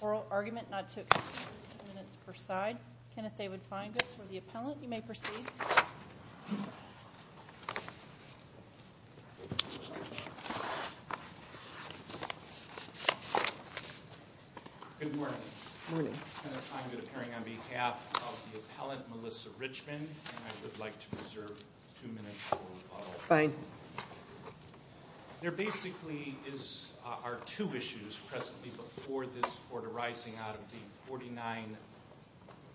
Oral argument not to exceed 15 minutes per side. Kenneth David Feingold for the appellant, you may proceed. Good morning. Good morning. Melissa Richmond, and I would like to reserve two minutes for rebuttal. There basically are two issues presently before this court arising out of the 49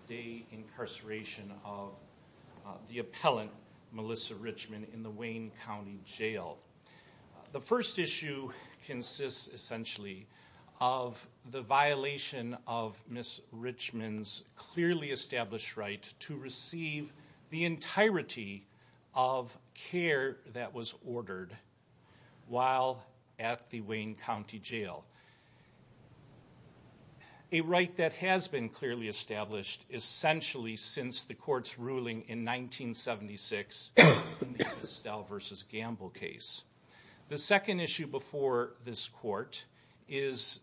day incarceration of the appellant, Melissa Richmond, in the Wayne County Jail. The first issue consists essentially of the violation of Miss Richmond's clearly established right to receive the entirety of care that was ordered while at the Wayne County Jail. A right that has been clearly established essentially since the court's ruling in 1976 in the Estelle v. Gamble case. The second issue before this court is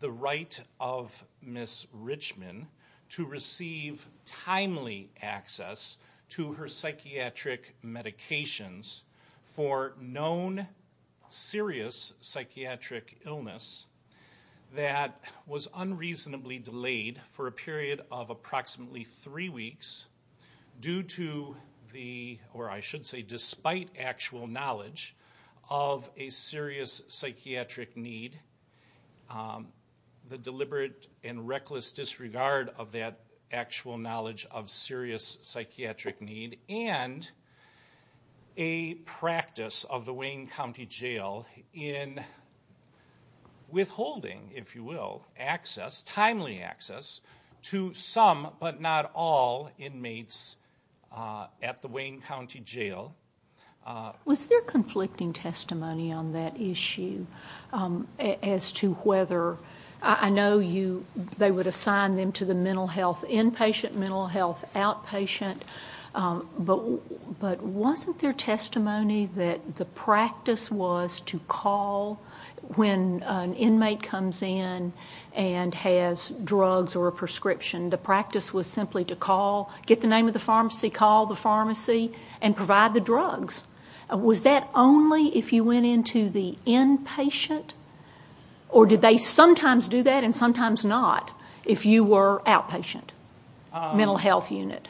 the right of Miss Richmond to receive timely access to her psychiatric medications for known serious psychiatric illness that was unreasonably delayed for a period of approximately three weeks due to the, or I should say despite actual knowledge of a serious psychiatric need, the deliberate and reckless disregard of that actual knowledge of serious psychiatric need, and a practice of the Wayne County Jail in withholding, if you will, access, timely access, to some but not all inmates at the Wayne County Jail. Was there conflicting testimony on that issue as to whether, I know they would assign them to the mental health, inpatient mental health, outpatient, but wasn't there testimony that the practice was to call when an inmate comes in and has drugs or a prescription? The practice was simply to call, get the name of the pharmacy, call the pharmacy, and provide the drugs. Was that only if you went into the inpatient? Or did they sometimes do that and sometimes not if you were outpatient, mental health unit?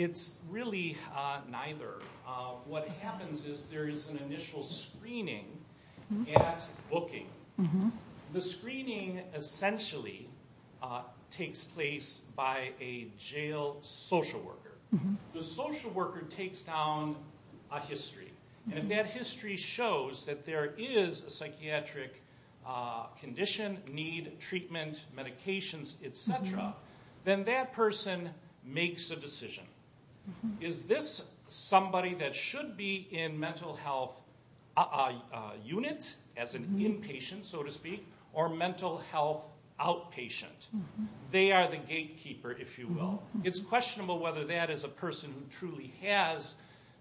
It's really neither. What happens is there is an initial screening at booking. The screening essentially takes place by a jail social worker. The social worker takes down a history. And if that history shows that there is a psychiatric condition, need, treatment, medications, et cetera, then that person makes a decision. Is this somebody that should be in mental health unit, as an inpatient, so to speak, or mental health outpatient? They are the gatekeeper, if you will. It's questionable whether that is a person who truly has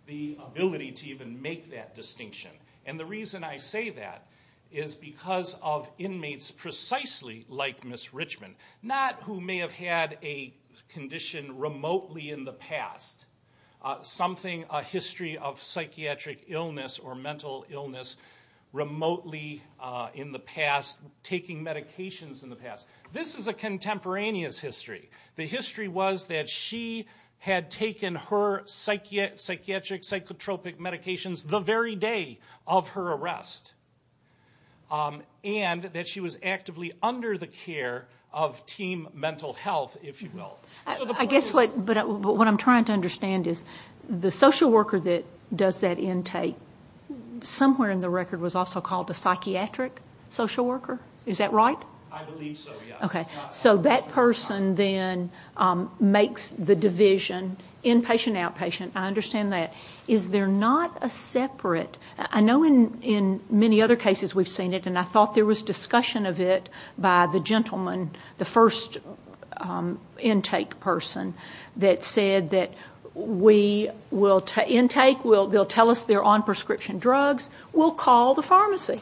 the ability to even make that distinction. And the reason I say that is because of inmates precisely like Ms. Richmond, not who may have had a condition remotely in the past. Something, a history of psychiatric illness or mental illness remotely in the past, taking medications in the past. This is a contemporaneous history. The history was that she had taken her psychiatric, psychotropic medications the very day of her arrest. And that she was actively under the care of team mental health, if you will. I guess what I'm trying to understand is the social worker that does that intake, somewhere in the record was also called a psychiatric social worker. Is that right? I believe so, yes. Okay. So that person then makes the division, inpatient, outpatient. I understand that. Is there not a separate, I know in many other cases we've seen it and I thought there was discussion of it by the gentleman, the first intake person that said that we will, intake, they'll tell us they're on prescription drugs, we'll call the pharmacy.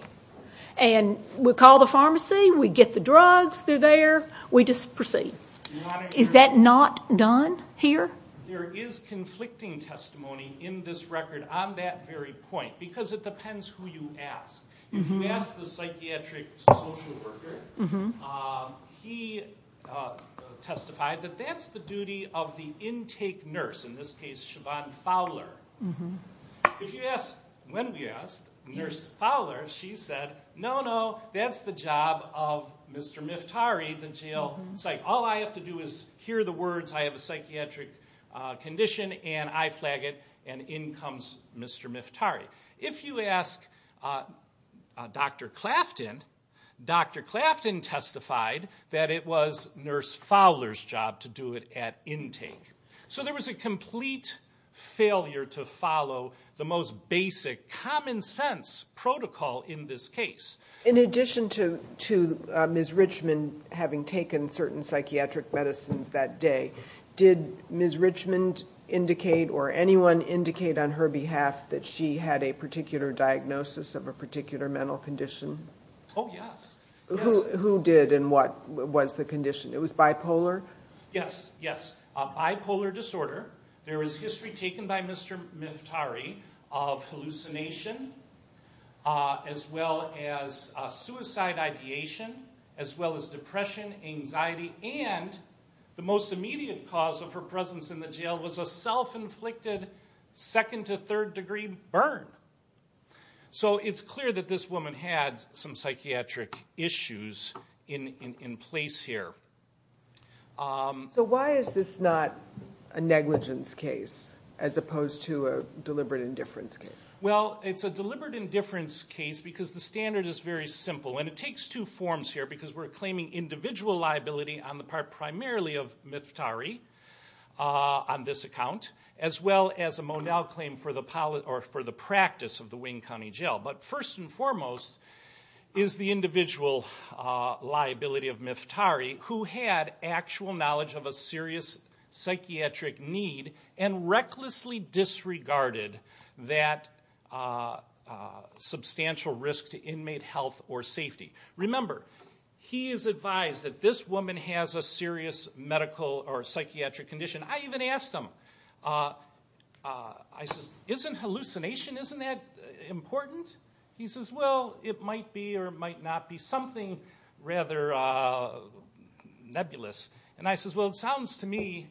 And we call the pharmacy, we get the drugs, they're there, we just proceed. Is that not done here? There is conflicting testimony in this record on that very point because it depends who you ask. If you ask the psychiatric social worker, he testified that that's the duty of the intake nurse, in this case, Siobhan Fowler. If you ask, when we asked Nurse Fowler, she said, no, no, that's the job of Mr. Miftari, the jail psych. All I have to do is hear the words, I have a psychiatric condition, and I flag it, and in comes Mr. Miftari. If you ask Dr. Clafton, Dr. Clafton testified that it was Nurse Fowler's job to do it at intake. So there was a complete failure to follow the most basic, common sense protocol in this case. In addition to Ms. Richmond having taken certain psychiatric medicines that day, did Ms. Richmond indicate or anyone indicate on her behalf that she had a particular diagnosis of a particular mental condition? Oh, yes. Who did and what was the condition? It was bipolar? Yes, yes. Bipolar disorder. There is history taken by Mr. Miftari of hallucination, as well as suicide ideation, as well as depression, anxiety, and the most immediate cause of her presence in the jail was a self-inflicted second to third degree burn. So it's clear that this woman had some psychiatric issues in place here. So why is this not a negligence case as opposed to a deliberate indifference case? Well, it's a deliberate indifference case because the standard is very simple, and it takes two forms here because we're claiming individual liability on the part primarily of Miftari on this account, as well as a Monell claim for the practice of the Wayne County Jail. But first and foremost is the individual liability of Miftari who had actual knowledge of a serious psychiatric need and recklessly disregarded that substantial risk to inmate health or safety. Remember, he is advised that this woman has a serious medical or psychiatric condition. I even asked him, isn't hallucination, isn't that important? He says, well, it might be or it might not be something rather nebulous. And I says, well, it sounds to me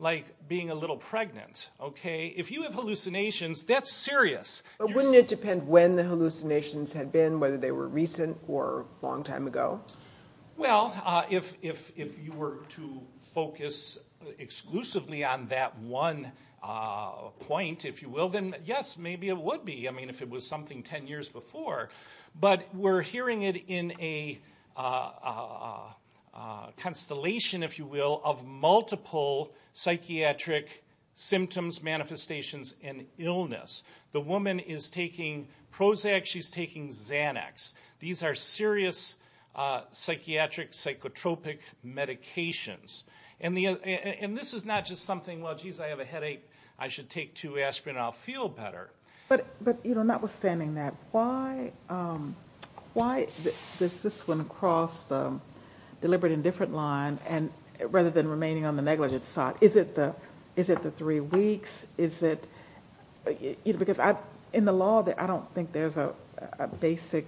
like being a little pregnant, okay? If you have hallucinations, that's serious. But wouldn't it depend when the hallucinations had been, whether they were recent or a long time ago? Well, if you were to focus exclusively on that one point, if you will, then yes, maybe it would be. I mean, if it was something 10 years before, but we're hearing it in a constellation, if you will, of multiple psychiatric symptoms, manifestations, and illness. The woman is taking Prozac, she's taking Xanax. These are serious psychiatric, psychotropic medications. And this is not just something, well, geez, I have a headache, I should take two aspirin and I'll feel better. But notwithstanding that, why does this one cross the deliberate indifference line rather than remaining on the negligence side? Is it the three weeks? Is it, because in the law, I don't think there's a basic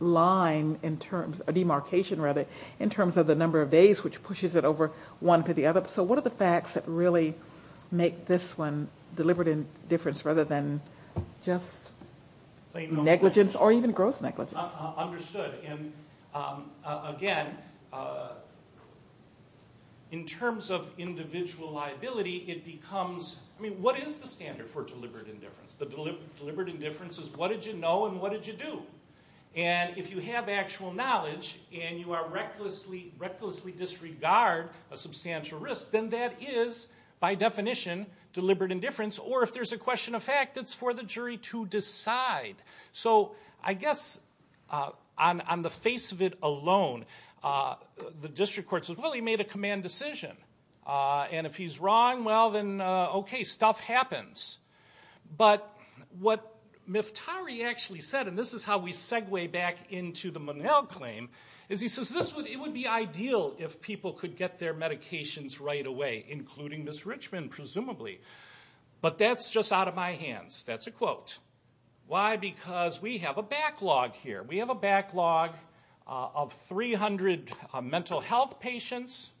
line in terms, a demarcation rather, in terms of the number of days which pushes it over one to the other. So what are the facts that really make this one deliberate indifference rather than just negligence or even gross negligence? Understood. And again, in terms of individual liability, it becomes, I mean, what is the standard for deliberate indifference? The deliberate indifference is what did you know and what did you do? And if you have actual knowledge and you recklessly disregard a substantial risk, then that is, by definition, deliberate indifference. Or if there's a question of fact, it's for the jury to decide. So I guess on the face of it alone, the district court says, well, he made a command decision. And if he's wrong, well, then okay, stuff happens. But what Miftari actually said, and this is how we segue back into the Monell claim, is he says it would be ideal if people could get their medications right away, including Ms. Richmond, presumably. But that's just out of my hands. That's a quote. Why? Because we have a backlog here. We have a backlog of 300 mental health patients.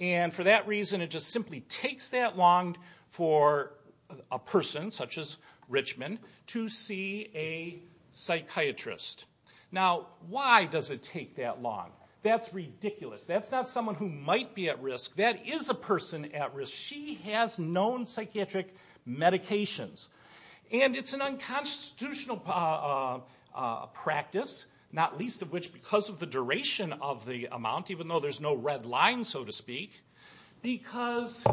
And for that reason, it just simply takes that long for a person, such as Richmond, to see a psychiatrist. Now, why does it take that long? That's ridiculous. That's not someone who might be at risk. That is a person at risk. She has known psychiatric medications. And it's an unconstitutional practice, not least of which because of the duration of the amount, even though there's no red line, so to speak, because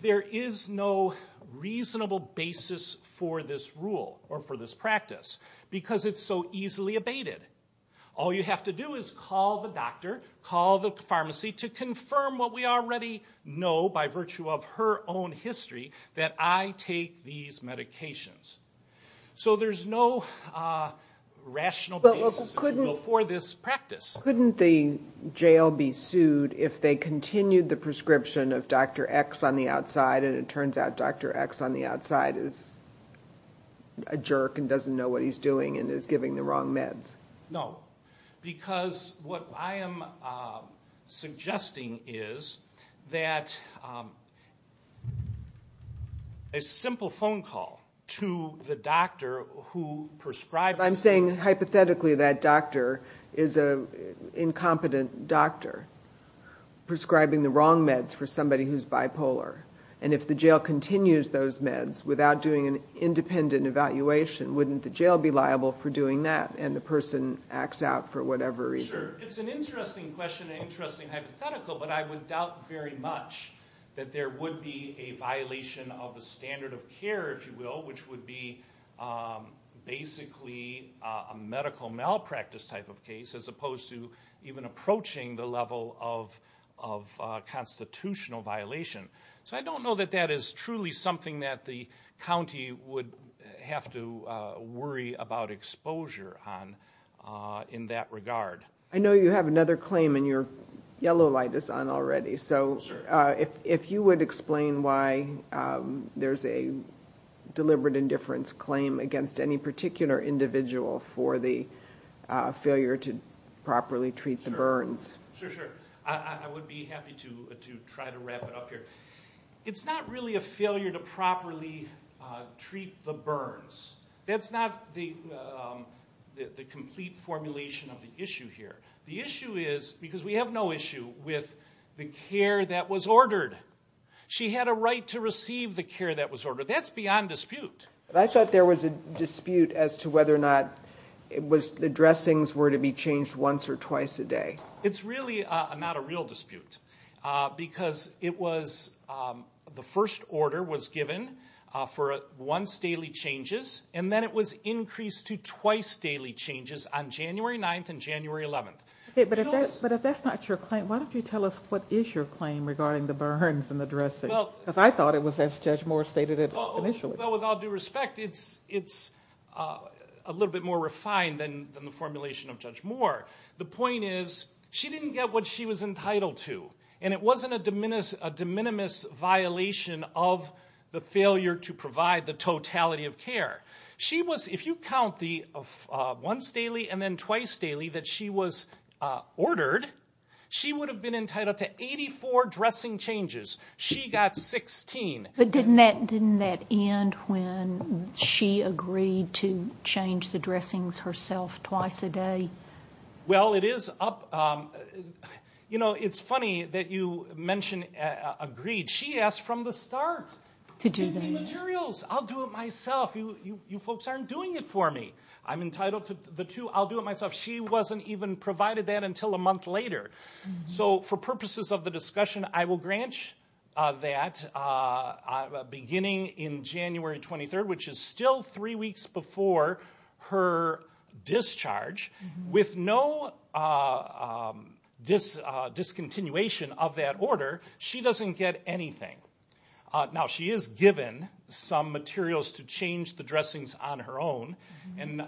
there is no reasonable basis for this rule or for this practice. Because it's so easily abated. All you have to do is call the doctor, call the pharmacy, to confirm what we already know by virtue of her own history, that I take these medications. So there's no rational basis for this practice. Couldn't the jail be sued if they continued the prescription of Dr. X on the outside, and it turns out Dr. X on the outside is a jerk and doesn't know what he's doing and is giving the wrong meds? No, because what I am suggesting is that a simple phone call to the doctor who prescribes... I'm saying hypothetically that doctor is an incompetent doctor prescribing the wrong meds for somebody who's bipolar. And if the jail continues those meds without doing an independent evaluation, wouldn't the jail be liable for doing that and the person acts out for whatever reason? Sure. It's an interesting question and interesting hypothetical, but I would doubt very much that there would be a violation of the standard of care, if you will, which would be basically a medical malpractice type of case, as opposed to even approaching the level of constitutional violation. So I don't know that that is truly something that the county would have to worry about exposure on in that regard. I know you have another claim and your yellow light is on already. So if you would explain why there's a deliberate indifference claim against any particular individual for the failure to properly treat the burns. Sure, sure. I would be happy to try to wrap it up here. It's not really a failure to properly treat the burns. That's not the complete formulation of the issue here. The issue is, because we have no issue with the care that was ordered. She had a right to receive the care that was ordered. That's beyond dispute. I thought there was a dispute as to whether or not the dressings were to be changed once or twice a day. It's really not a real dispute, because the first order was given for once daily changes, and then it was increased to twice daily changes on January 9th and January 11th. But if that's not your claim, why don't you tell us what is your claim regarding the burns and the dressings? Because I thought it was as Judge Moore stated it initially. Well, with all due respect, it's a little bit more refined than the formulation of Judge Moore. The point is, she didn't get what she was entitled to, and it wasn't a de minimis violation of the failure to provide the totality of care. If you count the once daily and then twice daily that she was ordered, she would have been entitled to 84 dressing changes. She got 16. But didn't that end when she agreed to change the dressings herself twice a day? Well, it's funny that you mention agreed. She asked from the start. Give me materials. I'll do it myself. You folks aren't doing it for me. I'm entitled to the two. I'll do it myself. She wasn't even provided that until a month later. So for purposes of the discussion, I will grant that beginning in January 23rd, which is still three weeks before her discharge. With no discontinuation of that order, she doesn't get anything. Now, she is given some materials to change the dressings on her own, and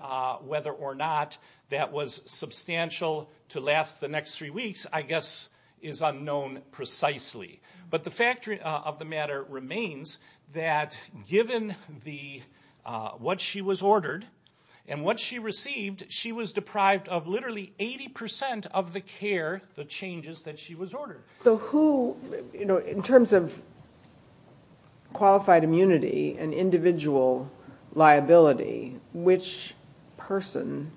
whether or not that was substantial to last the next three weeks, I guess, is unknown precisely. But the fact of the matter remains that given what she was ordered and what she received, she was deprived of literally 80% of the care, the changes that she was ordered. So in terms of qualified immunity and individual liability, which person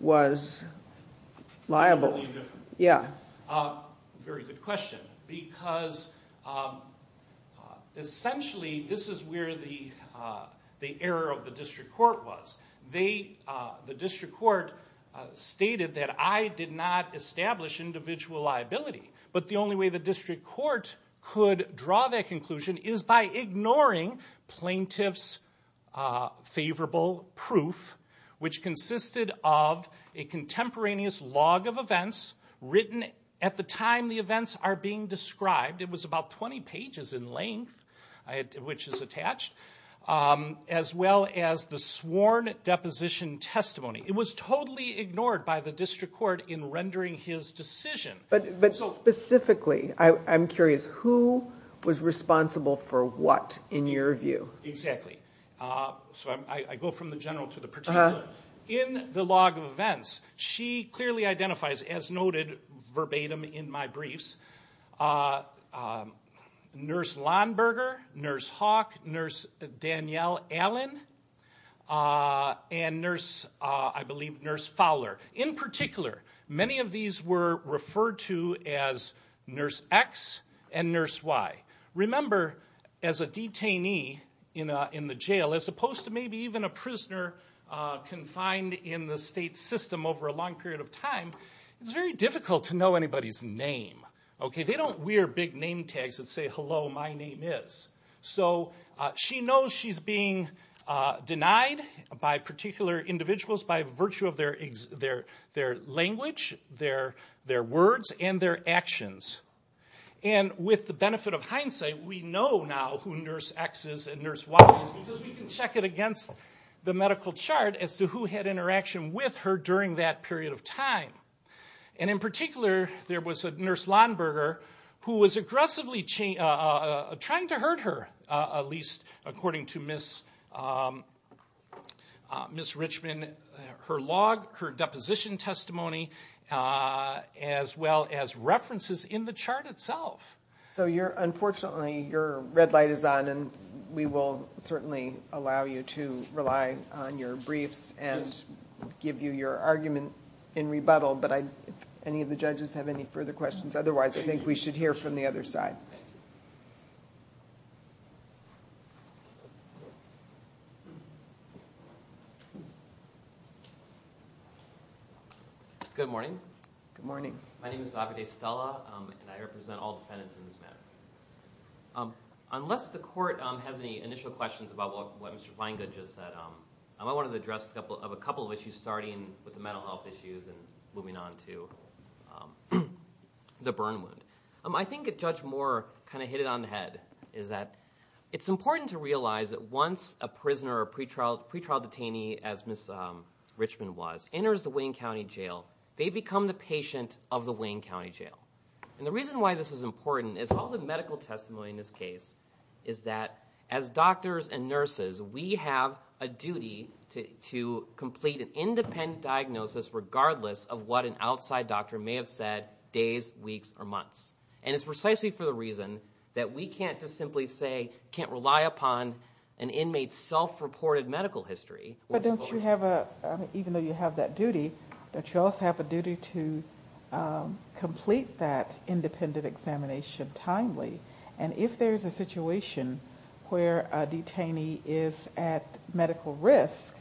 was liable? Very good question, because essentially this is where the error of the district court was. The district court stated that I did not establish individual liability, but the only way the district court could draw that conclusion is by ignoring plaintiff's favorable proof, which consisted of a contemporaneous log of events written at the time the events are being described. It was about 20 pages in length, which is attached, as well as the sworn deposition testimony. It was totally ignored by the district court in rendering his decision. But specifically, I'm curious, who was responsible for what, in your view? Exactly. So I go from the general to the particular. In the log of events, she clearly identifies, as noted verbatim in my briefs, Nurse Lahnberger, Nurse Hawk, Nurse Danielle Allen, and Nurse, I believe, Nurse Fowler. In particular, many of these were referred to as Nurse X and Nurse Y. Remember, as a detainee in the jail, as opposed to maybe even a prisoner confined in the state system over a long period of time, it's very difficult to know anybody's name. They don't wear big name tags that say, hello, my name is. She knows she's being denied by particular individuals by virtue of their language, their words, and their actions. With the benefit of hindsight, we know now who Nurse X is and Nurse Y is because we can check it against the medical chart as to who had interaction with her during that period of time. In particular, there was a Nurse Lahnberger who was aggressively trying to hurt her, at least according to Ms. Richmond, her log, her deposition testimony, as well as references in the chart itself. Unfortunately, your red light is on, and we will certainly allow you to rely on your briefs and give you your argument in rebuttal. But if any of the judges have any further questions, otherwise, I think we should hear from the other side. Good morning. Good morning. My name is Davide Stella, and I represent all defendants in this matter. Unless the court has any initial questions about what Mr. Feingold just said, I wanted to address a couple of issues, starting with the mental health issues and moving on to the burn wound. I think Judge Moore kind of hit it on the head. It's important to realize that once a prisoner or a pretrial detainee, as Ms. Richmond was, enters the Wayne County Jail, they become the patient of the Wayne County Jail. And the reason why this is important is all the medical testimony in this case is that as doctors and nurses, we have a duty to complete an independent diagnosis regardless of what an outside doctor may have said days, weeks, or months. And it's precisely for the reason that we can't just simply say, can't rely upon an inmate's self-reported medical history. Even though you have that duty, don't you also have a duty to complete that independent examination timely? And if there's a situation where a detainee is at medical risk,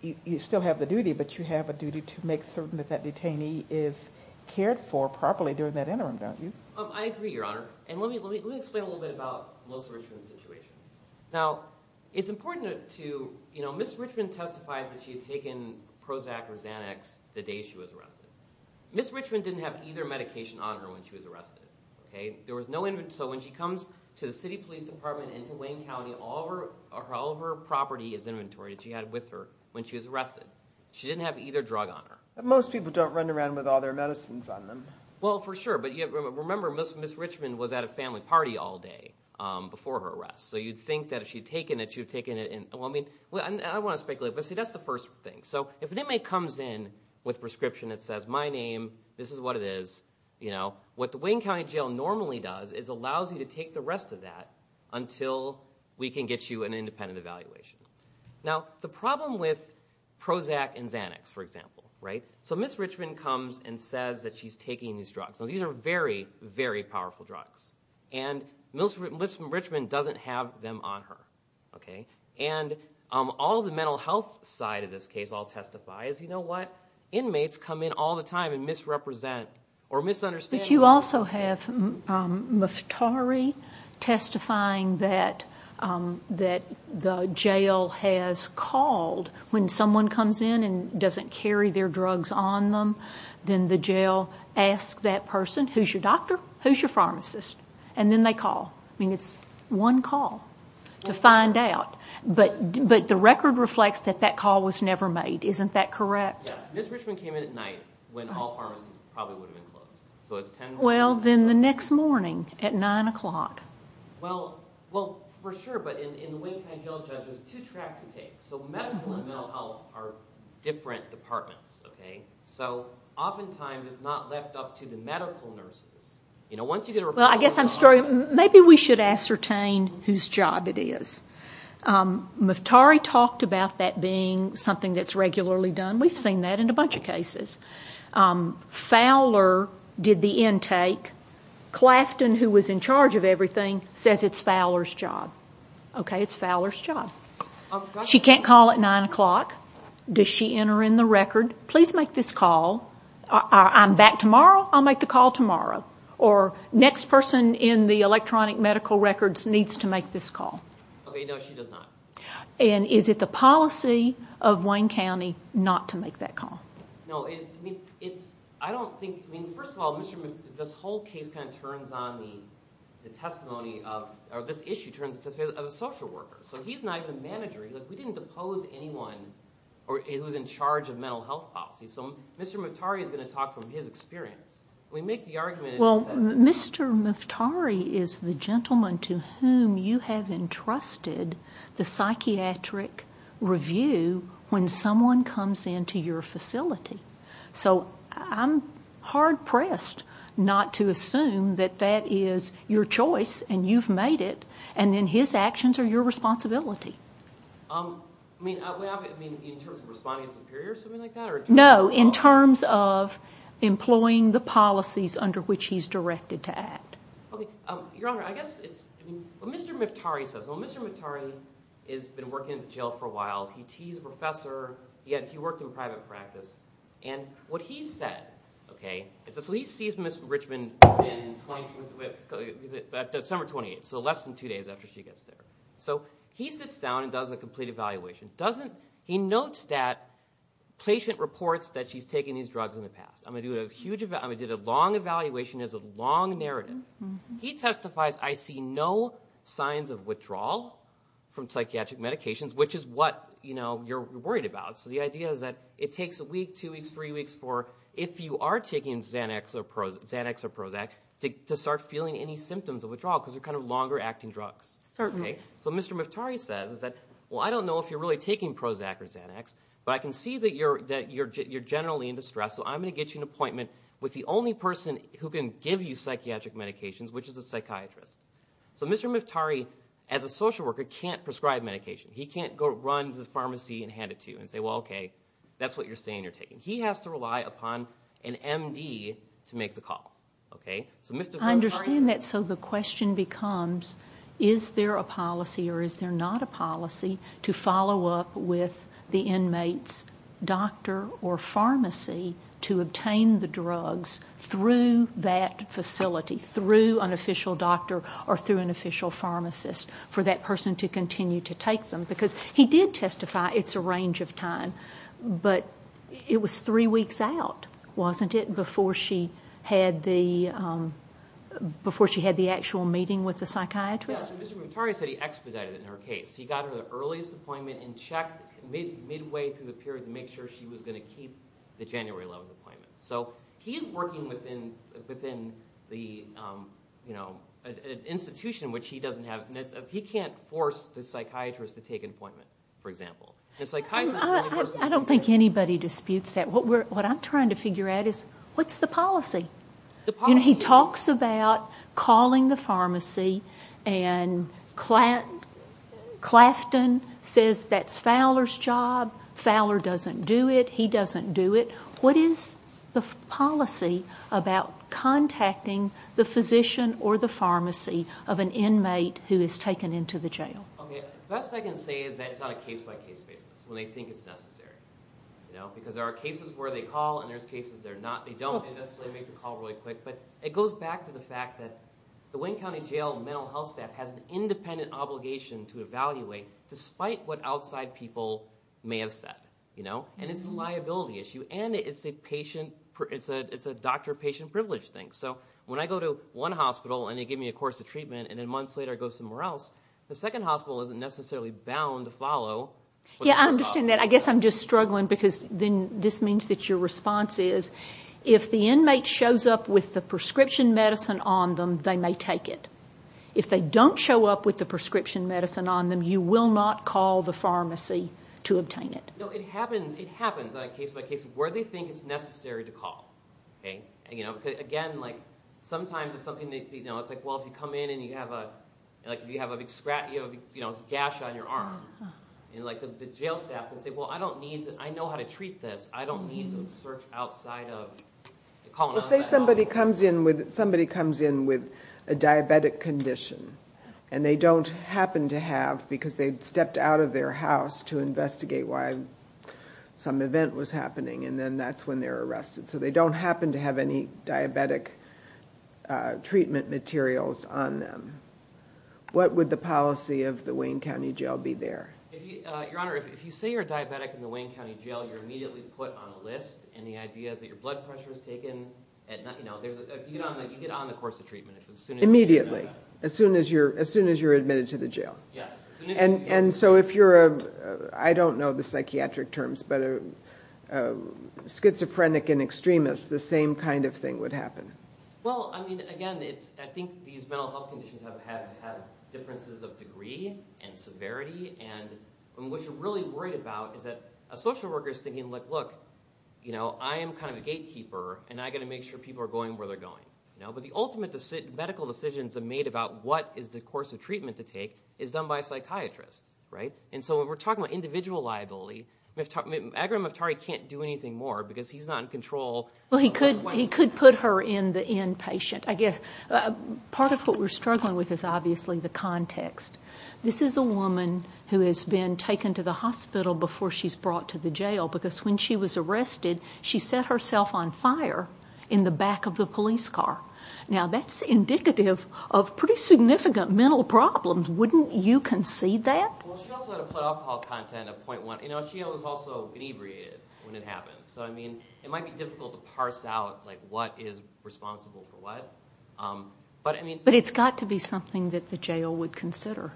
you still have the duty, but you have a duty to make certain that that detainee is cared for properly during that interim, don't you? I agree, Your Honor. And let me explain a little bit about Melissa Richmond's situation. Now, it's important to, you know, Ms. Richmond testifies that she had taken Prozac or Xanax the day she was arrested. Ms. Richmond didn't have either medication on her when she was arrested. So when she comes to the city police department and to Wayne County, all of her property is inventory that she had with her when she was arrested. She didn't have either drug on her. Most people don't run around with all their medicines on them. Well, for sure, but remember, Ms. Richmond was at a family party all day before her arrest. So you'd think that if she had taken it, she would have taken it in. Well, I mean, I don't want to speculate, but see, that's the first thing. So if an inmate comes in with a prescription that says, my name, this is what it is, you know, what the Wayne County Jail normally does is allows you to take the rest of that until we can get you an independent evaluation. Now, the problem with Prozac and Xanax, for example, right? So Ms. Richmond comes and says that she's taking these drugs. Now, these are very, very powerful drugs. And Ms. Richmond doesn't have them on her, okay? And all the mental health side of this case all testifies, you know what? Inmates come in all the time and misrepresent or misunderstand. But you also have Muftari testifying that the jail has called. When someone comes in and doesn't carry their drugs on them, then the jail asks that person, who's your doctor, who's your pharmacist, and then they call. I mean, it's one call to find out. But the record reflects that that call was never made. Isn't that correct? Yes. Ms. Richmond came in at night when all pharmacies probably would have been closed. Well, then the next morning at 9 o'clock. Well, for sure, but in the Wayne County Jail, judge, there's two tracks to take. So medical and mental health are different departments, okay? So oftentimes it's not left up to the medical nurses. You know, once you get a referral from a pharmacy. Well, I guess I'm sorry. Maybe we should ascertain whose job it is. Muftari talked about that being something that's regularly done. We've seen that in a bunch of cases. Fowler did the intake. Clafton, who was in charge of everything, says it's Fowler's job. Okay, it's Fowler's job. She can't call at 9 o'clock. Does she enter in the record? Please make this call. I'm back tomorrow. I'll make the call tomorrow. Or next person in the electronic medical records needs to make this call. Okay, no, she does not. And is it the policy of Wayne County not to make that call? No, I don't think. First of all, this whole case kind of turns on the testimony of, or this issue turns on the testimony of a social worker. So he's not even a manager. We didn't depose anyone who was in charge of mental health policy. So Mr. Muftari is going to talk from his experience. We make the argument. Well, Mr. Muftari is the gentleman to whom you have entrusted the psychiatric review when someone comes into your facility. So I'm hard-pressed not to assume that that is your choice and you've made it, and then his actions are your responsibility. I mean, in terms of responding as superior or something like that? No, in terms of employing the policies under which he's directed to act. Your Honor, I guess it's what Mr. Muftari says. Well, Mr. Muftari has been working in jail for a while. He's a professor. He worked in private practice. And what he said, okay, So he sees Ms. Richmond in December 28th, so less than two days after she gets there. So he sits down and does a complete evaluation. He notes that patient reports that she's taken these drugs in the past. I'm going to do a huge evaluation. I'm going to do a long evaluation. It's a long narrative. He testifies, I see no signs of withdrawal from psychiatric medications, which is what you're worried about. So the idea is that it takes a week, two weeks, three weeks for, if you are taking Xanax or Prozac, to start feeling any symptoms of withdrawal because they're kind of longer-acting drugs. So what Mr. Muftari says is that, Well, I don't know if you're really taking Prozac or Xanax, but I can see that you're generally in distress, so I'm going to get you an appointment with the only person who can give you psychiatric medications, which is a psychiatrist. So Mr. Muftari, as a social worker, can't prescribe medication. He can't go run to the pharmacy and hand it to you and say, Well, okay, that's what you're saying you're taking. He has to rely upon an M.D. to make the call. I understand that. So the question becomes, is there a policy or is there not a policy to follow up with the inmate's doctor or pharmacy to obtain the drugs through that facility, through an official doctor or through an official pharmacist, for that person to continue to take them? Because he did testify, it's a range of time, but it was three weeks out, wasn't it, before she had the actual meeting with the psychiatrist? Yes, Mr. Muftari said he expedited it in her case. He got her the earliest appointment and checked midway through the period to make sure she was going to keep the January 11 appointment. So he's working within an institution which he doesn't have. He can't force the psychiatrist to take an appointment, for example. I don't think anybody disputes that. What I'm trying to figure out is, what's the policy? He talks about calling the pharmacy and Clafton says that's Fowler's job, Fowler doesn't do it, he doesn't do it. What is the policy about contacting the physician or the pharmacy of an inmate who is taken into the jail? The best I can say is that it's on a case-by-case basis when they think it's necessary. Because there are cases where they call and there are cases where they don't. They don't necessarily make the call really quick. But it goes back to the fact that the Wayne County Jail mental health staff has an independent obligation to evaluate despite what outside people may have said. And it's a liability issue and it's a doctor-patient privilege thing. So when I go to one hospital and they give me a course of treatment and then months later I go somewhere else, the second hospital isn't necessarily bound to follow. Yeah, I understand that. I guess I'm just struggling because this means that your response is if the inmate shows up with the prescription medicine on them, they may take it. If they don't show up with the prescription medicine on them, you will not call the pharmacy to obtain it. No, it happens on a case-by-case basis where they think it's necessary to call. Again, sometimes it's something that's like, well, if you come in and you have a big gash on your arm, the jail staff can say, well, I know how to treat this. I don't need to search outside of the colonoscopy office. Let's say somebody comes in with a diabetic condition and they don't happen to have because they stepped out of their house to investigate why some event was happening and then that's when they're arrested. So they don't happen to have any diabetic treatment materials on them. What would the policy of the Wayne County Jail be there? Your Honor, if you say you're a diabetic in the Wayne County Jail, you're immediately put on a list. And the idea is that your blood pressure is taken. You get on the course of treatment. Immediately, as soon as you're admitted to the jail? Yes. And so if you're a, I don't know the psychiatric terms, but a schizophrenic and extremist, the same kind of thing would happen. Well, I mean, again, I think these mental health conditions have had differences of degree and severity. And what you're really worried about is that a social worker is thinking, look, I am kind of a gatekeeper, and I've got to make sure people are going where they're going. But the ultimate medical decisions are made about what is the course of treatment to take is done by a psychiatrist, right? And so when we're talking about individual liability, Agra Moftari can't do anything more because he's not in control. Well, he could put her in the inpatient, I guess. Part of what we're struggling with is obviously the context. This is a woman who has been taken to the hospital before she's brought to the jail because when she was arrested, she set herself on fire in the back of the police car. Now, that's indicative of pretty significant mental problems. Wouldn't you concede that? Well, she also had a blood alcohol content of 0.1. You know, she was also inebriated when it happened. So, I mean, it might be difficult to parse out, like, what is responsible for what. But it's got to be something that the jail would consider,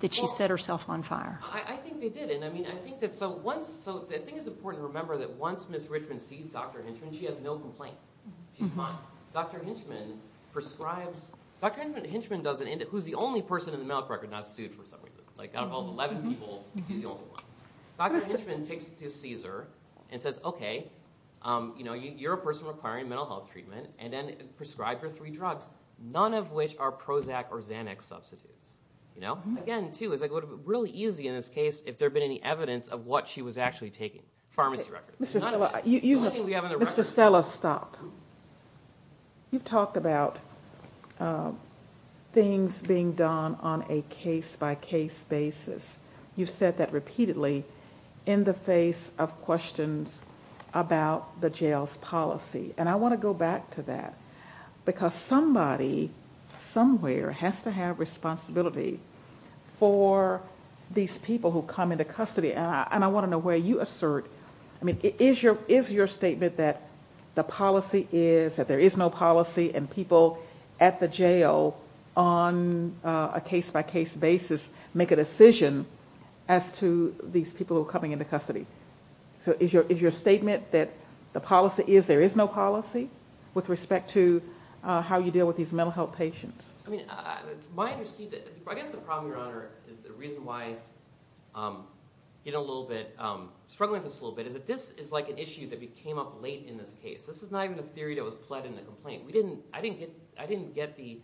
that she set herself on fire. I think they did. I think it's important to remember that once Ms. Richmond sees Dr. Hinchman, she has no complaint. She's fine. Now, Dr. Hinchman prescribes... Dr. Hinchman does it, who's the only person in the medical record not sued for some reason. Like, out of all 11 people, he's the only one. Dr. Hinchman takes it to CSER and says, okay, you're a person requiring mental health treatment, and then prescribes her three drugs, none of which are Prozac or Xanax substitutes. Again, too, it would have been really easy in this case if there had been any evidence of what she was actually taking. Pharmacy records. Mr. Stella, stop. You've talked about things being done on a case-by-case basis. You've said that repeatedly in the face of questions about the jail's policy. And I want to go back to that, because somebody somewhere has to have responsibility for these people who come into custody. And I want to know where you assert... I mean, is your statement that the policy is, that there is no policy, and people at the jail on a case-by-case basis make a decision as to these people who are coming into custody? So is your statement that the policy is there is no policy with respect to how you deal with these mental health patients? I mean, my understanding... I guess the problem, Your Honor, is the reason why I'm struggling with this a little bit is that this is like an issue that came up late in this case. This is not even a theory that was pled in the complaint. I didn't get the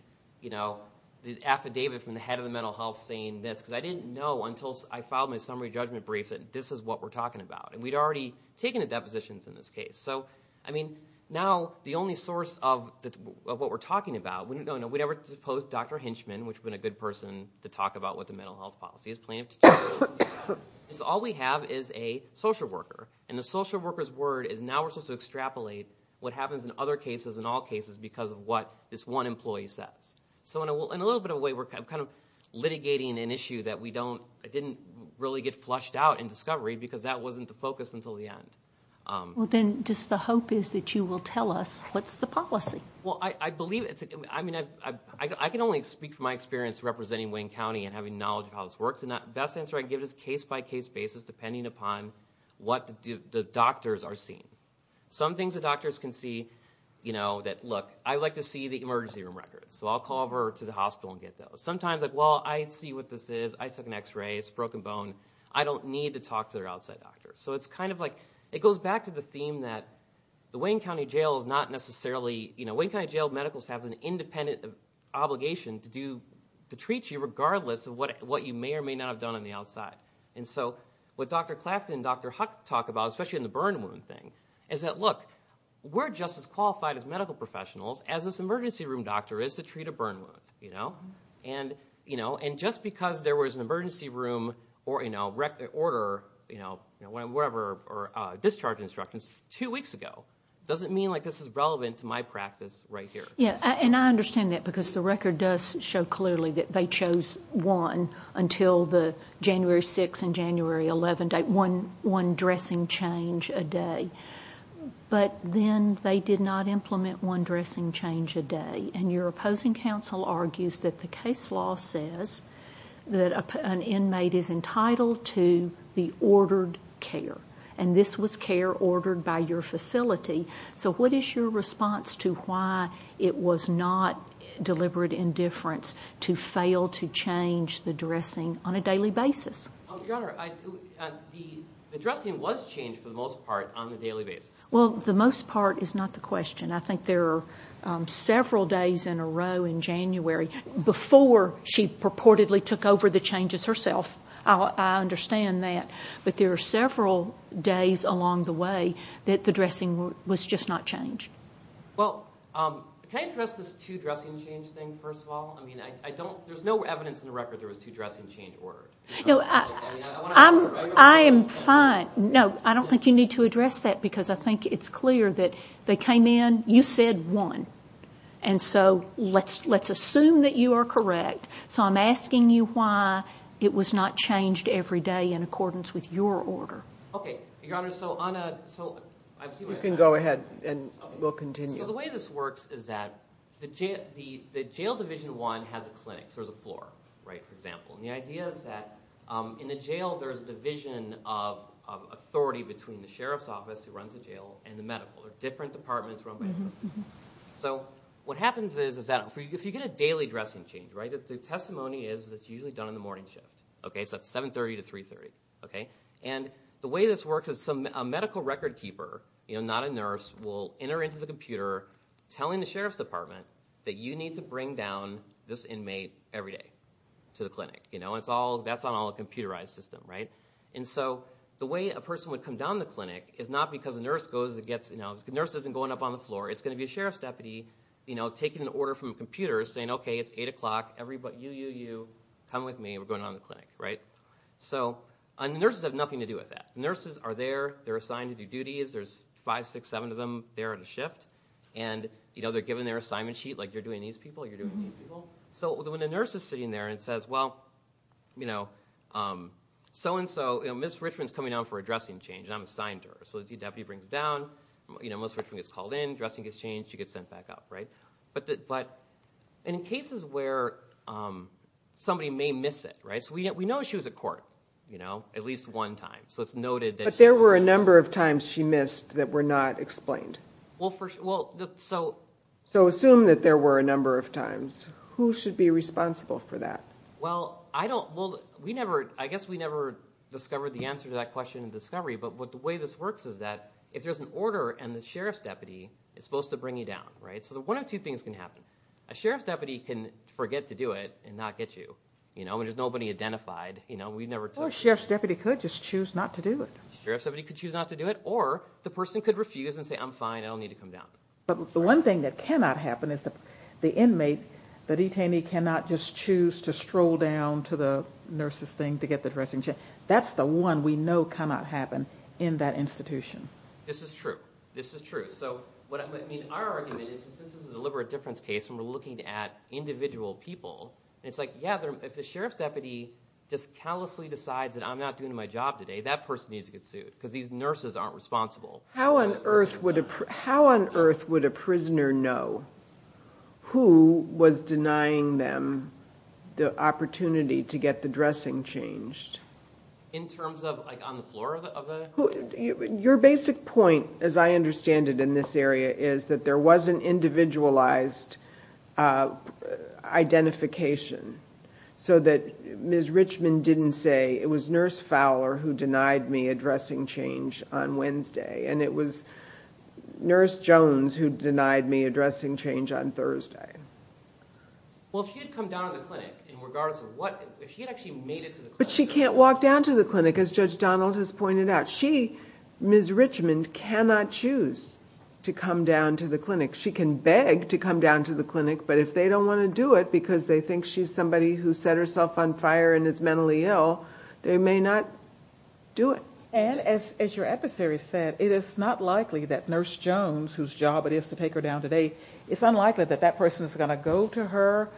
affidavit from the head of the mental health saying this, because I didn't know until I filed my summary judgment brief that this is what we're talking about. And we'd already taken the depositions in this case. So, I mean, now the only source of what we're talking about... We never supposed Dr. Hinchman, which has been a good person to talk about what the mental health policy is, plaintiff to justice. All we have is a social worker, and the social worker's word is now we're supposed to extrapolate what happens in other cases and all cases because of what this one employee says. So in a little bit of a way, we're kind of litigating an issue that we don't... It didn't really get flushed out in discovery because that wasn't the focus until the end. Well, then just the hope is that you will tell us what's the policy. Well, I believe it's... I mean, I can only speak from my experience representing Wayne County and having knowledge of how this works, and the best answer I can give is case-by-case basis depending upon what the doctors are seeing. Some things the doctors can see, you know, that, look, I'd like to see the emergency room records, so I'll call over to the hospital and get those. Sometimes, like, well, I see what this is. I took an X-ray. It's a broken bone. I don't need to talk to their outside doctor. So it's kind of like... It goes back to the theme that the Wayne County Jail is not necessarily... You know, Wayne County Jail medicals have an independent obligation to treat you regardless of what you may or may not have done on the outside. And so what Dr. Clapton and Dr. Huck talk about, especially in the burn wound thing, is that, look, we're just as qualified as medical professionals as this emergency room doctor is to treat a burn wound, you know? And, you know, just because there was an emergency room or, you know, order, you know, whatever, or discharge instructions two weeks ago doesn't mean, like, this is relevant to my practice right here. Yeah, and I understand that because the record does show clearly that they chose one until the January 6th and January 11th date, one dressing change a day. But then they did not implement one dressing change a day. And your opposing counsel argues that the case law says that an inmate is entitled to the ordered care. And this was care ordered by your facility. So what is your response to why it was not deliberate indifference to fail to change the dressing on a daily basis? Your Honor, the dressing was changed for the most part on a daily basis. Well, the most part is not the question. I think there are several days in a row in January before she purportedly took over the changes herself. I understand that. But there are several days along the way that the dressing was just not changed. Well, can I address this two dressing change thing first of all? I mean, I don't, there's no evidence in the record there was two dressing change orders. I am fine. No, I don't think you need to address that because I think it's clear that they came in, you said one. And so let's assume that you are correct. So I'm asking you why it was not changed every day in accordance with your order. Okay, Your Honor, so on a, so I see what you're asking. You can go ahead and we'll continue. So the way this works is that the jail division one has a clinic. So there's a floor, right, for example. And the idea is that in the jail there's division of authority between the sheriff's office who runs the jail and the medical. There are different departments run by the medical. So what happens is that if you get a daily dressing change, right, the testimony is that it's usually done in the morning shift. So it's 7.30 to 3.30. And the way this works is a medical record keeper, not a nurse, will enter into the computer telling the sheriff's department that you need to bring down this inmate every day to the clinic. That's on all a computerized system. And so the way a person would come down the clinic is not because a nurse goes and gets, the nurse isn't going up on the floor. It's going to be a sheriff's deputy taking an order from a computer saying, okay, it's 8 o'clock, you, you, you, come with me. We're going down to the clinic. So nurses have nothing to do with that. Nurses are there. They're assigned to do duties. There's five, six, seven of them there on a shift. And they're given their assignment sheet, like you're doing these people, you're doing these people. So when a nurse is sitting there and says, well, so-and-so, Ms. Richmond's coming down for a dressing change, and I'm assigned her. So the deputy brings her down. Ms. Richmond gets called in, dressing gets changed, and she gets sent back up. But in cases where somebody may miss it, so we know she was at court at least one time. But there were a number of times she missed that were not explained. So assume that there were a number of times. Who should be responsible for that? Well, I don't, well, we never, I guess we never discovered the answer to that question in discovery. But the way this works is that if there's an order and the sheriff's deputy is supposed to bring you down, right? So one of two things can happen. A sheriff's deputy can forget to do it and not get you, you know, and there's nobody identified, you know. Well, a sheriff's deputy could just choose not to do it. A sheriff's deputy could choose not to do it, or the person could refuse and say, I'm fine, I don't need to come down. But the one thing that cannot happen is the inmate, the detainee cannot just choose to stroll down to the nurse's thing to get the dressing change. That's the one we know cannot happen in that institution. This is true. This is true. So what I mean, our argument is since this is a deliberate difference case and we're looking at individual people, and it's like, yeah, if the sheriff's deputy just callously decides that I'm not doing my job today, that person needs to get sued because these nurses aren't responsible. How on earth would a, how on earth would a prisoner know who was denying them the opportunity to get the dressing changed? In terms of, like, on the floor of the? Your basic point, as I understand it in this area, is that there was an individualized identification so that Ms. Richmond didn't say, it was Nurse Fowler who denied me a dressing change on Wednesday, and it was Nurse Jones who denied me a dressing change on Thursday. Well, if she had come down to the clinic, regardless of what, if she had actually made it to the clinic. But she can't walk down to the clinic, as Judge Donald has pointed out. She, Ms. Richmond, cannot choose to come down to the clinic. She can beg to come down to the clinic, but if they don't want to do it because they think she's somebody who set herself on fire and is mentally ill, they may not do it. And as your adversary said, it is not likely that Nurse Jones, whose job it is to take her down today, it's unlikely that that person is going to go to her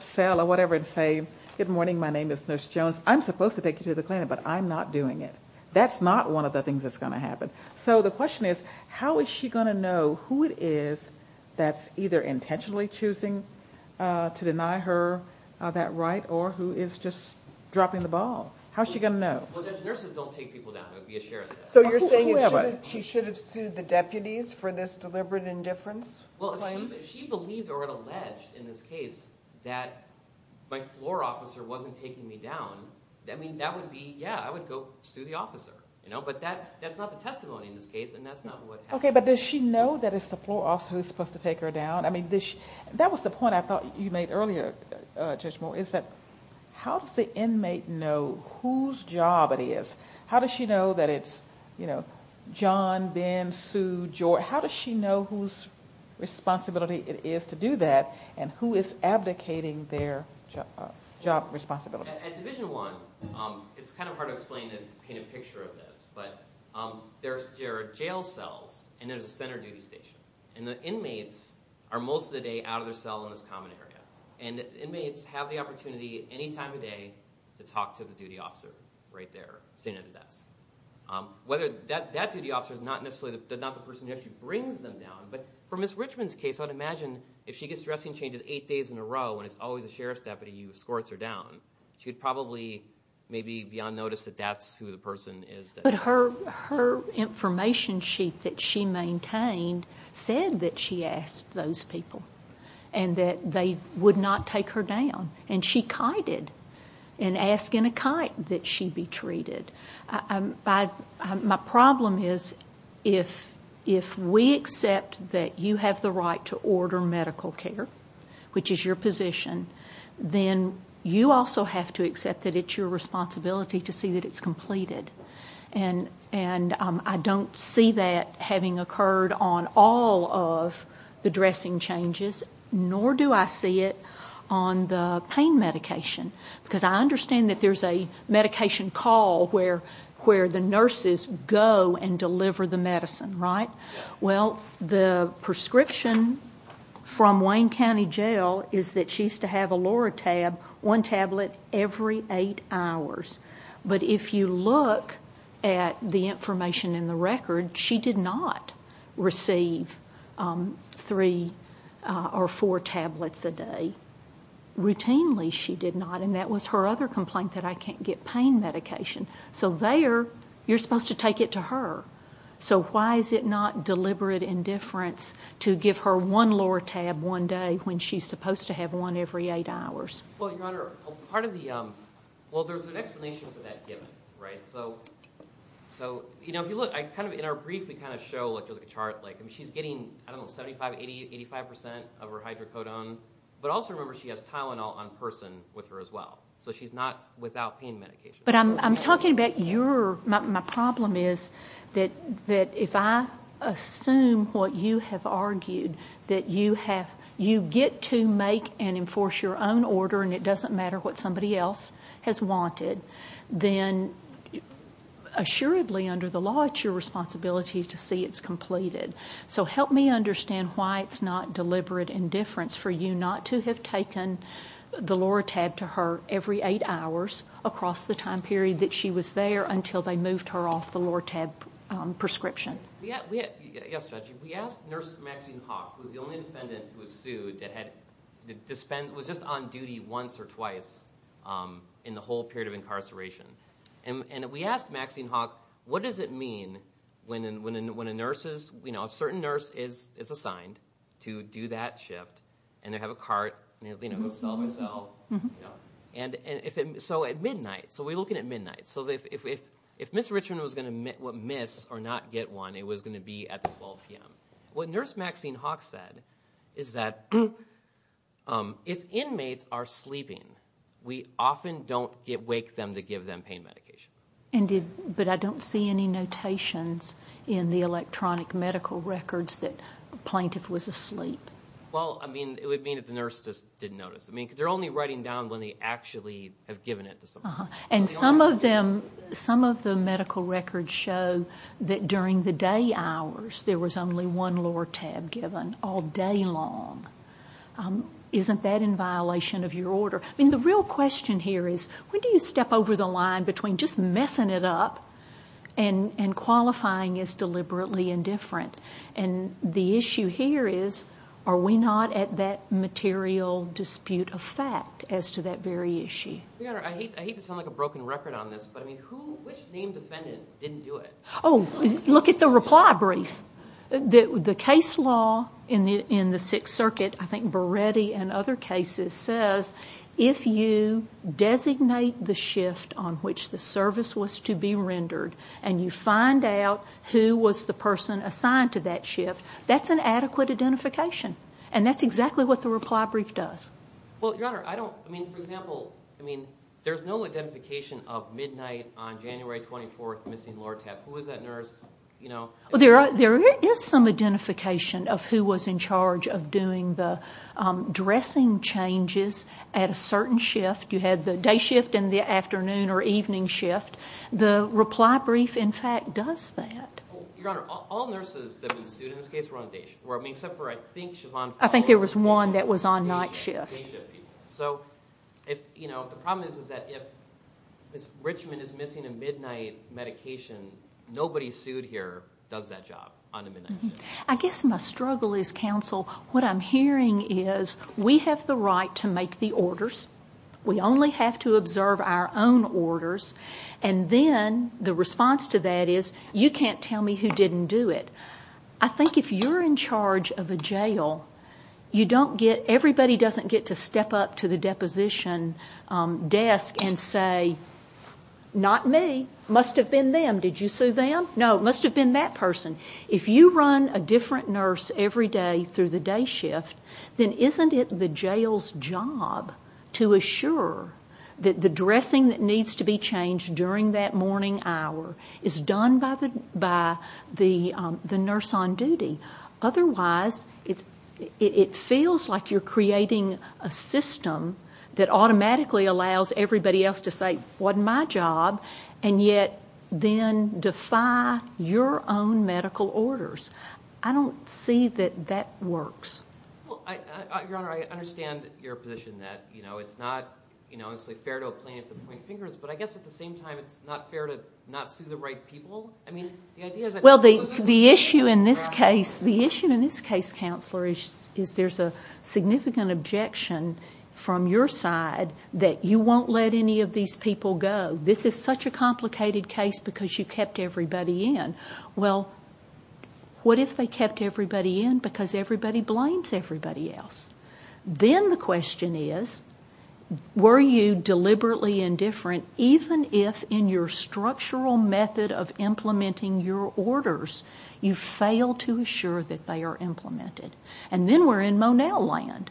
cell or whatever and say, good morning, my name is Nurse Jones. I'm supposed to take you to the clinic, but I'm not doing it. That's not one of the things that's going to happen. So the question is, how is she going to know who it is that's either intentionally choosing to deny her that right or who is just dropping the ball? How is she going to know? Well, Judge, nurses don't take people down. It would be a sheriff's desk. So you're saying she should have sued the deputies for this deliberate indifference claim? Well, if she believed or had alleged in this case that my floor officer wasn't taking me down, that would be, yeah, I would go sue the officer. But that's not the testimony in this case, and that's not what happened. Okay, but does she know that it's the floor officer who's supposed to take her down? I mean, that was the point I thought you made earlier, Judge Moore, is that how does the inmate know whose job it is? How does she know that it's John, Ben, Sue, George? How does she know whose responsibility it is to do that and who is abdicating their job responsibilities? At Division 1, it's kind of hard to explain and paint a picture of this, but there are jail cells and there's a center duty station, and the inmates are most of the day out of their cell in this common area, and the inmates have the opportunity any time of day to talk to the duty officer right there sitting at a desk. That duty officer is not necessarily the person who actually brings them down, but for Ms. Richmond's case, I would imagine if she gets dressing changes eight days in a row and it's always a sheriff's deputy who escorts her down, she would probably maybe be on notice that that's who the person is. But her information sheet that she maintained said that she asked those people and that they would not take her down, and she kited in asking a kite that she be treated. My problem is if we accept that you have the right to order medical care, which is your position, then you also have to accept that it's your responsibility to see that it's completed. And I don't see that having occurred on all of the dressing changes, nor do I see it on the pain medication, because I understand that there's a medication call where the nurses go and deliver the medicine, right? Well, the prescription from Wayne County Jail is that she's to have a Loratab, one tablet every eight hours. But if you look at the information in the record, she did not receive three or four tablets a day. Routinely, she did not, and that was her other complaint that I can't get pain medication. So there, you're supposed to take it to her. So why is it not deliberate indifference to give her one Loratab one day when she's supposed to have one every eight hours? Well, Your Honor, part of the... Well, there's an explanation for that given, right? So, you know, if you look, in our brief, we kind of show, like, there's a chart. I mean, she's getting, I don't know, 75%, 80%, 85% of her hydrocodone, but also remember she has Tylenol on person with her as well. So she's not without pain medication. But I'm talking about your... My problem is that if I assume what you have argued, that you get to make and enforce your own order and it doesn't matter what somebody else has wanted, then, assuredly, under the law, it's your responsibility to see it's completed. So help me understand why it's not deliberate indifference for you not to have taken the Loratab to her every eight hours across the time period that she was there until they moved her off the Loratab prescription. Yes, Judge. We asked Nurse Maxine Hawk, who was the only defendant who was sued, that was just on duty once or twice in the whole period of incarceration. And we asked Maxine Hawk, what does it mean when a certain nurse is assigned to do that shift and they have a cart, you know, go sell and resell? So at midnight, so we're looking at midnight. So if Ms. Richmond was going to miss or not get one, it was going to be at 12 p.m. What Nurse Maxine Hawk said is that if inmates are sleeping, we often don't wake them to give them pain medication. But I don't see any notations in the electronic medical records that a plaintiff was asleep. Well, I mean, it would mean that the nurse just didn't notice. I mean, they're only writing down when they actually have given it to someone. And some of the medical records show that during the day hours, there was only one Loratab given all day long. Isn't that in violation of your order? I mean, the real question here is, when do you step over the line between just messing it up and qualifying as deliberately indifferent? And the issue here is, are we not at that material dispute of fact as to that very issue? Your Honor, I hate to sound like a broken record on this, but, I mean, which named defendant didn't do it? Oh, look at the reply brief. The case law in the Sixth Circuit, I think Beretti and other cases, says if you designate the shift on which the service was to be rendered and you find out who was the person assigned to that shift, that's an adequate identification. And that's exactly what the reply brief does. Well, Your Honor, I don't, I mean, for example, I mean, there's no identification of midnight on January 24th missing Loratab. Who was that nurse? Well, there is some identification of who was in charge of doing the dressing changes at a certain shift. You had the day shift and the afternoon or evening shift. The reply brief, in fact, does that. Well, Your Honor, all nurses that have been sued in this case were on a day shift. Well, I mean, except for, I think, Siobhan Fuller. I think there was one that was on night shift. Day shift people. So, you know, the problem is that if Ms. Richmond is missing a midnight medication, nobody sued here does that job on a midnight shift. I guess my struggle is, counsel, what I'm hearing is we have the right to make the orders. We only have to observe our own orders. And then the response to that is you can't tell me who didn't do it. I think if you're in charge of a jail, you don't get, everybody doesn't get to step up to the deposition desk and say, not me. Must have been them. Did you sue them? No, it must have been that person. If you run a different nurse every day through the day shift, then isn't it the jail's job to assure that the dressing that needs to be changed during that morning hour is done by the nurse on duty? Otherwise, it feels like you're creating a system that automatically allows everybody else to say, wasn't my job, and yet then defy your own medical orders. I don't see that that works. Well, Your Honor, I understand your position that, you know, it's not, you know, it's like fair to a plaintiff to point fingers, but I guess at the same time it's not fair to not sue the right people. I mean, the idea is that... Well, the issue in this case, the issue in this case, counselor, is there's a significant objection from your side that you won't let any of these people go. This is such a complicated case because you kept everybody in. Well, what if they kept everybody in because everybody blames everybody else? Then the question is, were you deliberately indifferent, even if in your structural method of implementing your orders, you fail to assure that they are implemented? And then we're in Monell land.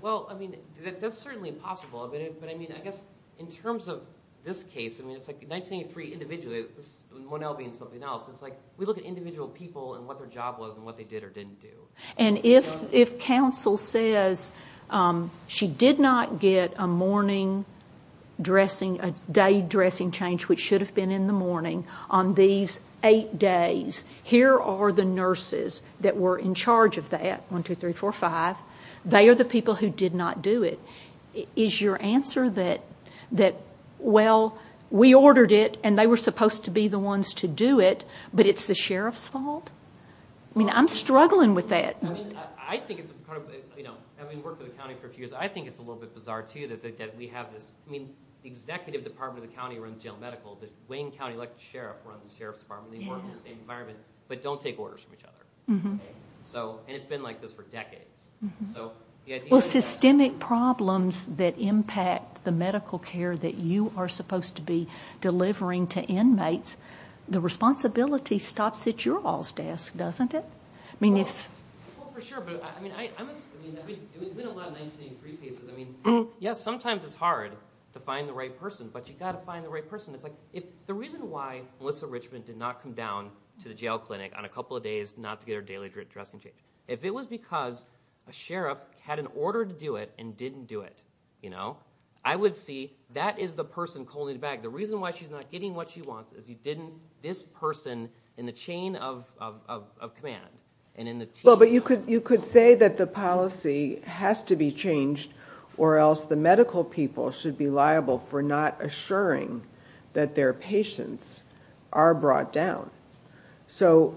Well, I mean, that's certainly possible. But, I mean, I guess in terms of this case, I mean, it's like 1983 individually, Monell being something else, it's like we look at individual people and what their job was and what they did or didn't do. And if counsel says she did not get a morning dressing, a day dressing change which should have been in the morning on these eight days, here are the nurses that were in charge of that, 1, 2, 3, 4, 5. They are the people who did not do it. Is your answer that, well, we ordered it and they were supposed to be the ones to do it, but it's the sheriff's fault? I mean, I'm struggling with that. I mean, I think it's part of, you know, having worked for the county for a few years, I think it's a little bit bizarre, too, that we have this, I mean, the executive department of the county runs general medical, the Wayne County elected sheriff runs the sheriff's department, they work in the same environment, but don't take orders from each other. And it's been like this for decades. Well, systemic problems that impact the medical care that you are supposed to be delivering to inmates, the responsibility stops at your all's desk, doesn't it? Well, for sure, but I mean, I've been doing a lot of 1983 pieces. I mean, yes, sometimes it's hard to find the right person, but you've got to find the right person. The reason why Melissa Richmond did not come down to the jail clinic on a couple of days not to get her daily dressing change, if it was because a sheriff had an order to do it and didn't do it, you know, I would see that is the person pulling the bag. The reason why she's not getting what she wants is you didn't, this person in the chain of command and in the team. Well, but you could say that the policy has to be changed or else the medical people should be liable for not assuring that their patients are brought down. So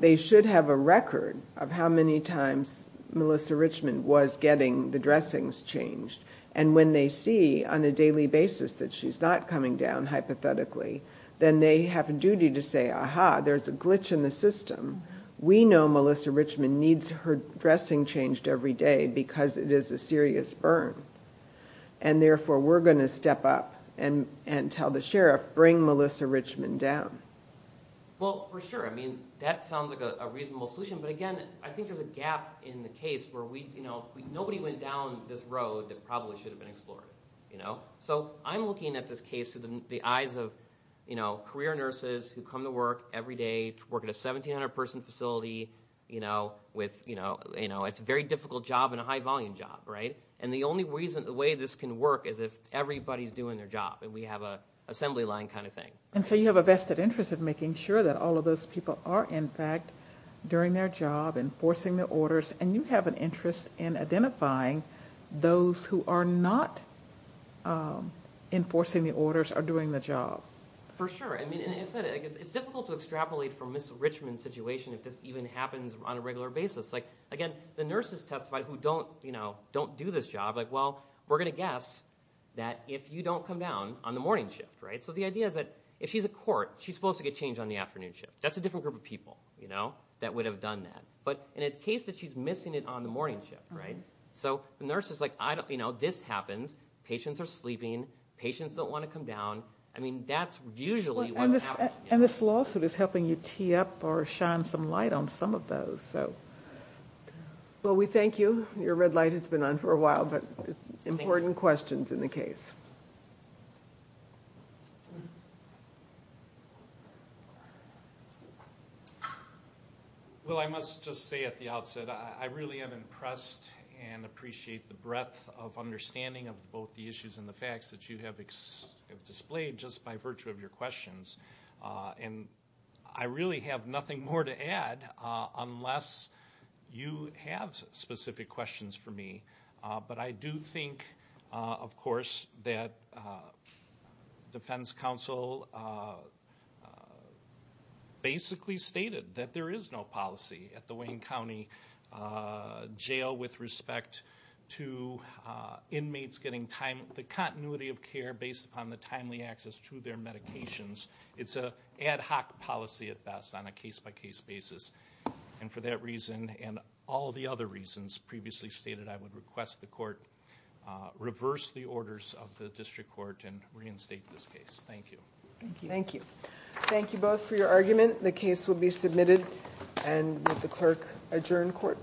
they should have a record of how many times Melissa Richmond was getting the dressings changed. And when they see on a daily basis that she's not coming down hypothetically, then they have a duty to say, aha, there's a glitch in the system. We know Melissa Richmond needs her dressing changed every day because it is a serious burn, and therefore we're going to step up and tell the sheriff, bring Melissa Richmond down. Well, for sure, I mean, that sounds like a reasonable solution, but again, I think there's a gap in the case where we, you know, nobody went down this road that probably should have been explored. So I'm looking at this case through the eyes of career nurses who come to work every day, work at a 1,700-person facility. It's a very difficult job and a high-volume job. And the only way this can work is if everybody's doing their job and we have an assembly line kind of thing. And so you have a vested interest in making sure that all of those people are, in fact, doing their job, enforcing their orders, and you have an interest in identifying those who are not enforcing the orders or doing the job. For sure. I mean, it's difficult to extrapolate from Miss Richmond's situation if this even happens on a regular basis. Like, again, the nurses testified who don't do this job, like, well, we're going to guess that if you don't come down on the morning shift, right? So the idea is that if she's a court, she's supposed to get changed on the afternoon shift. That's a different group of people, you know, that would have done that. But in a case that she's missing it on the morning shift, right? So the nurse is like, you know, this happens. Patients are sleeping. Patients don't want to come down. I mean, that's usually what's happening. And this lawsuit is helping you tee up or shine some light on some of those. Well, we thank you. Your red light has been on for a while, but important questions in the case. Well, I must just say at the outset, I really am impressed and appreciate the breadth of understanding of both the issues and the facts that you have displayed just by virtue of your questions. And I really have nothing more to add unless you have specific questions for me. But I do think, of course, that defense counsel basically stated that there is no policy at the Wayne County Jail with respect to inmates getting the continuity of care based upon the timely access to their medications. It's an ad hoc policy at best on a case-by-case basis. And for that reason and all the other reasons previously stated, I would request the court reverse the orders of the district court and reinstate this case. Thank you. Thank you. Thank you both for your argument. The case will be submitted. And would the clerk adjourn court?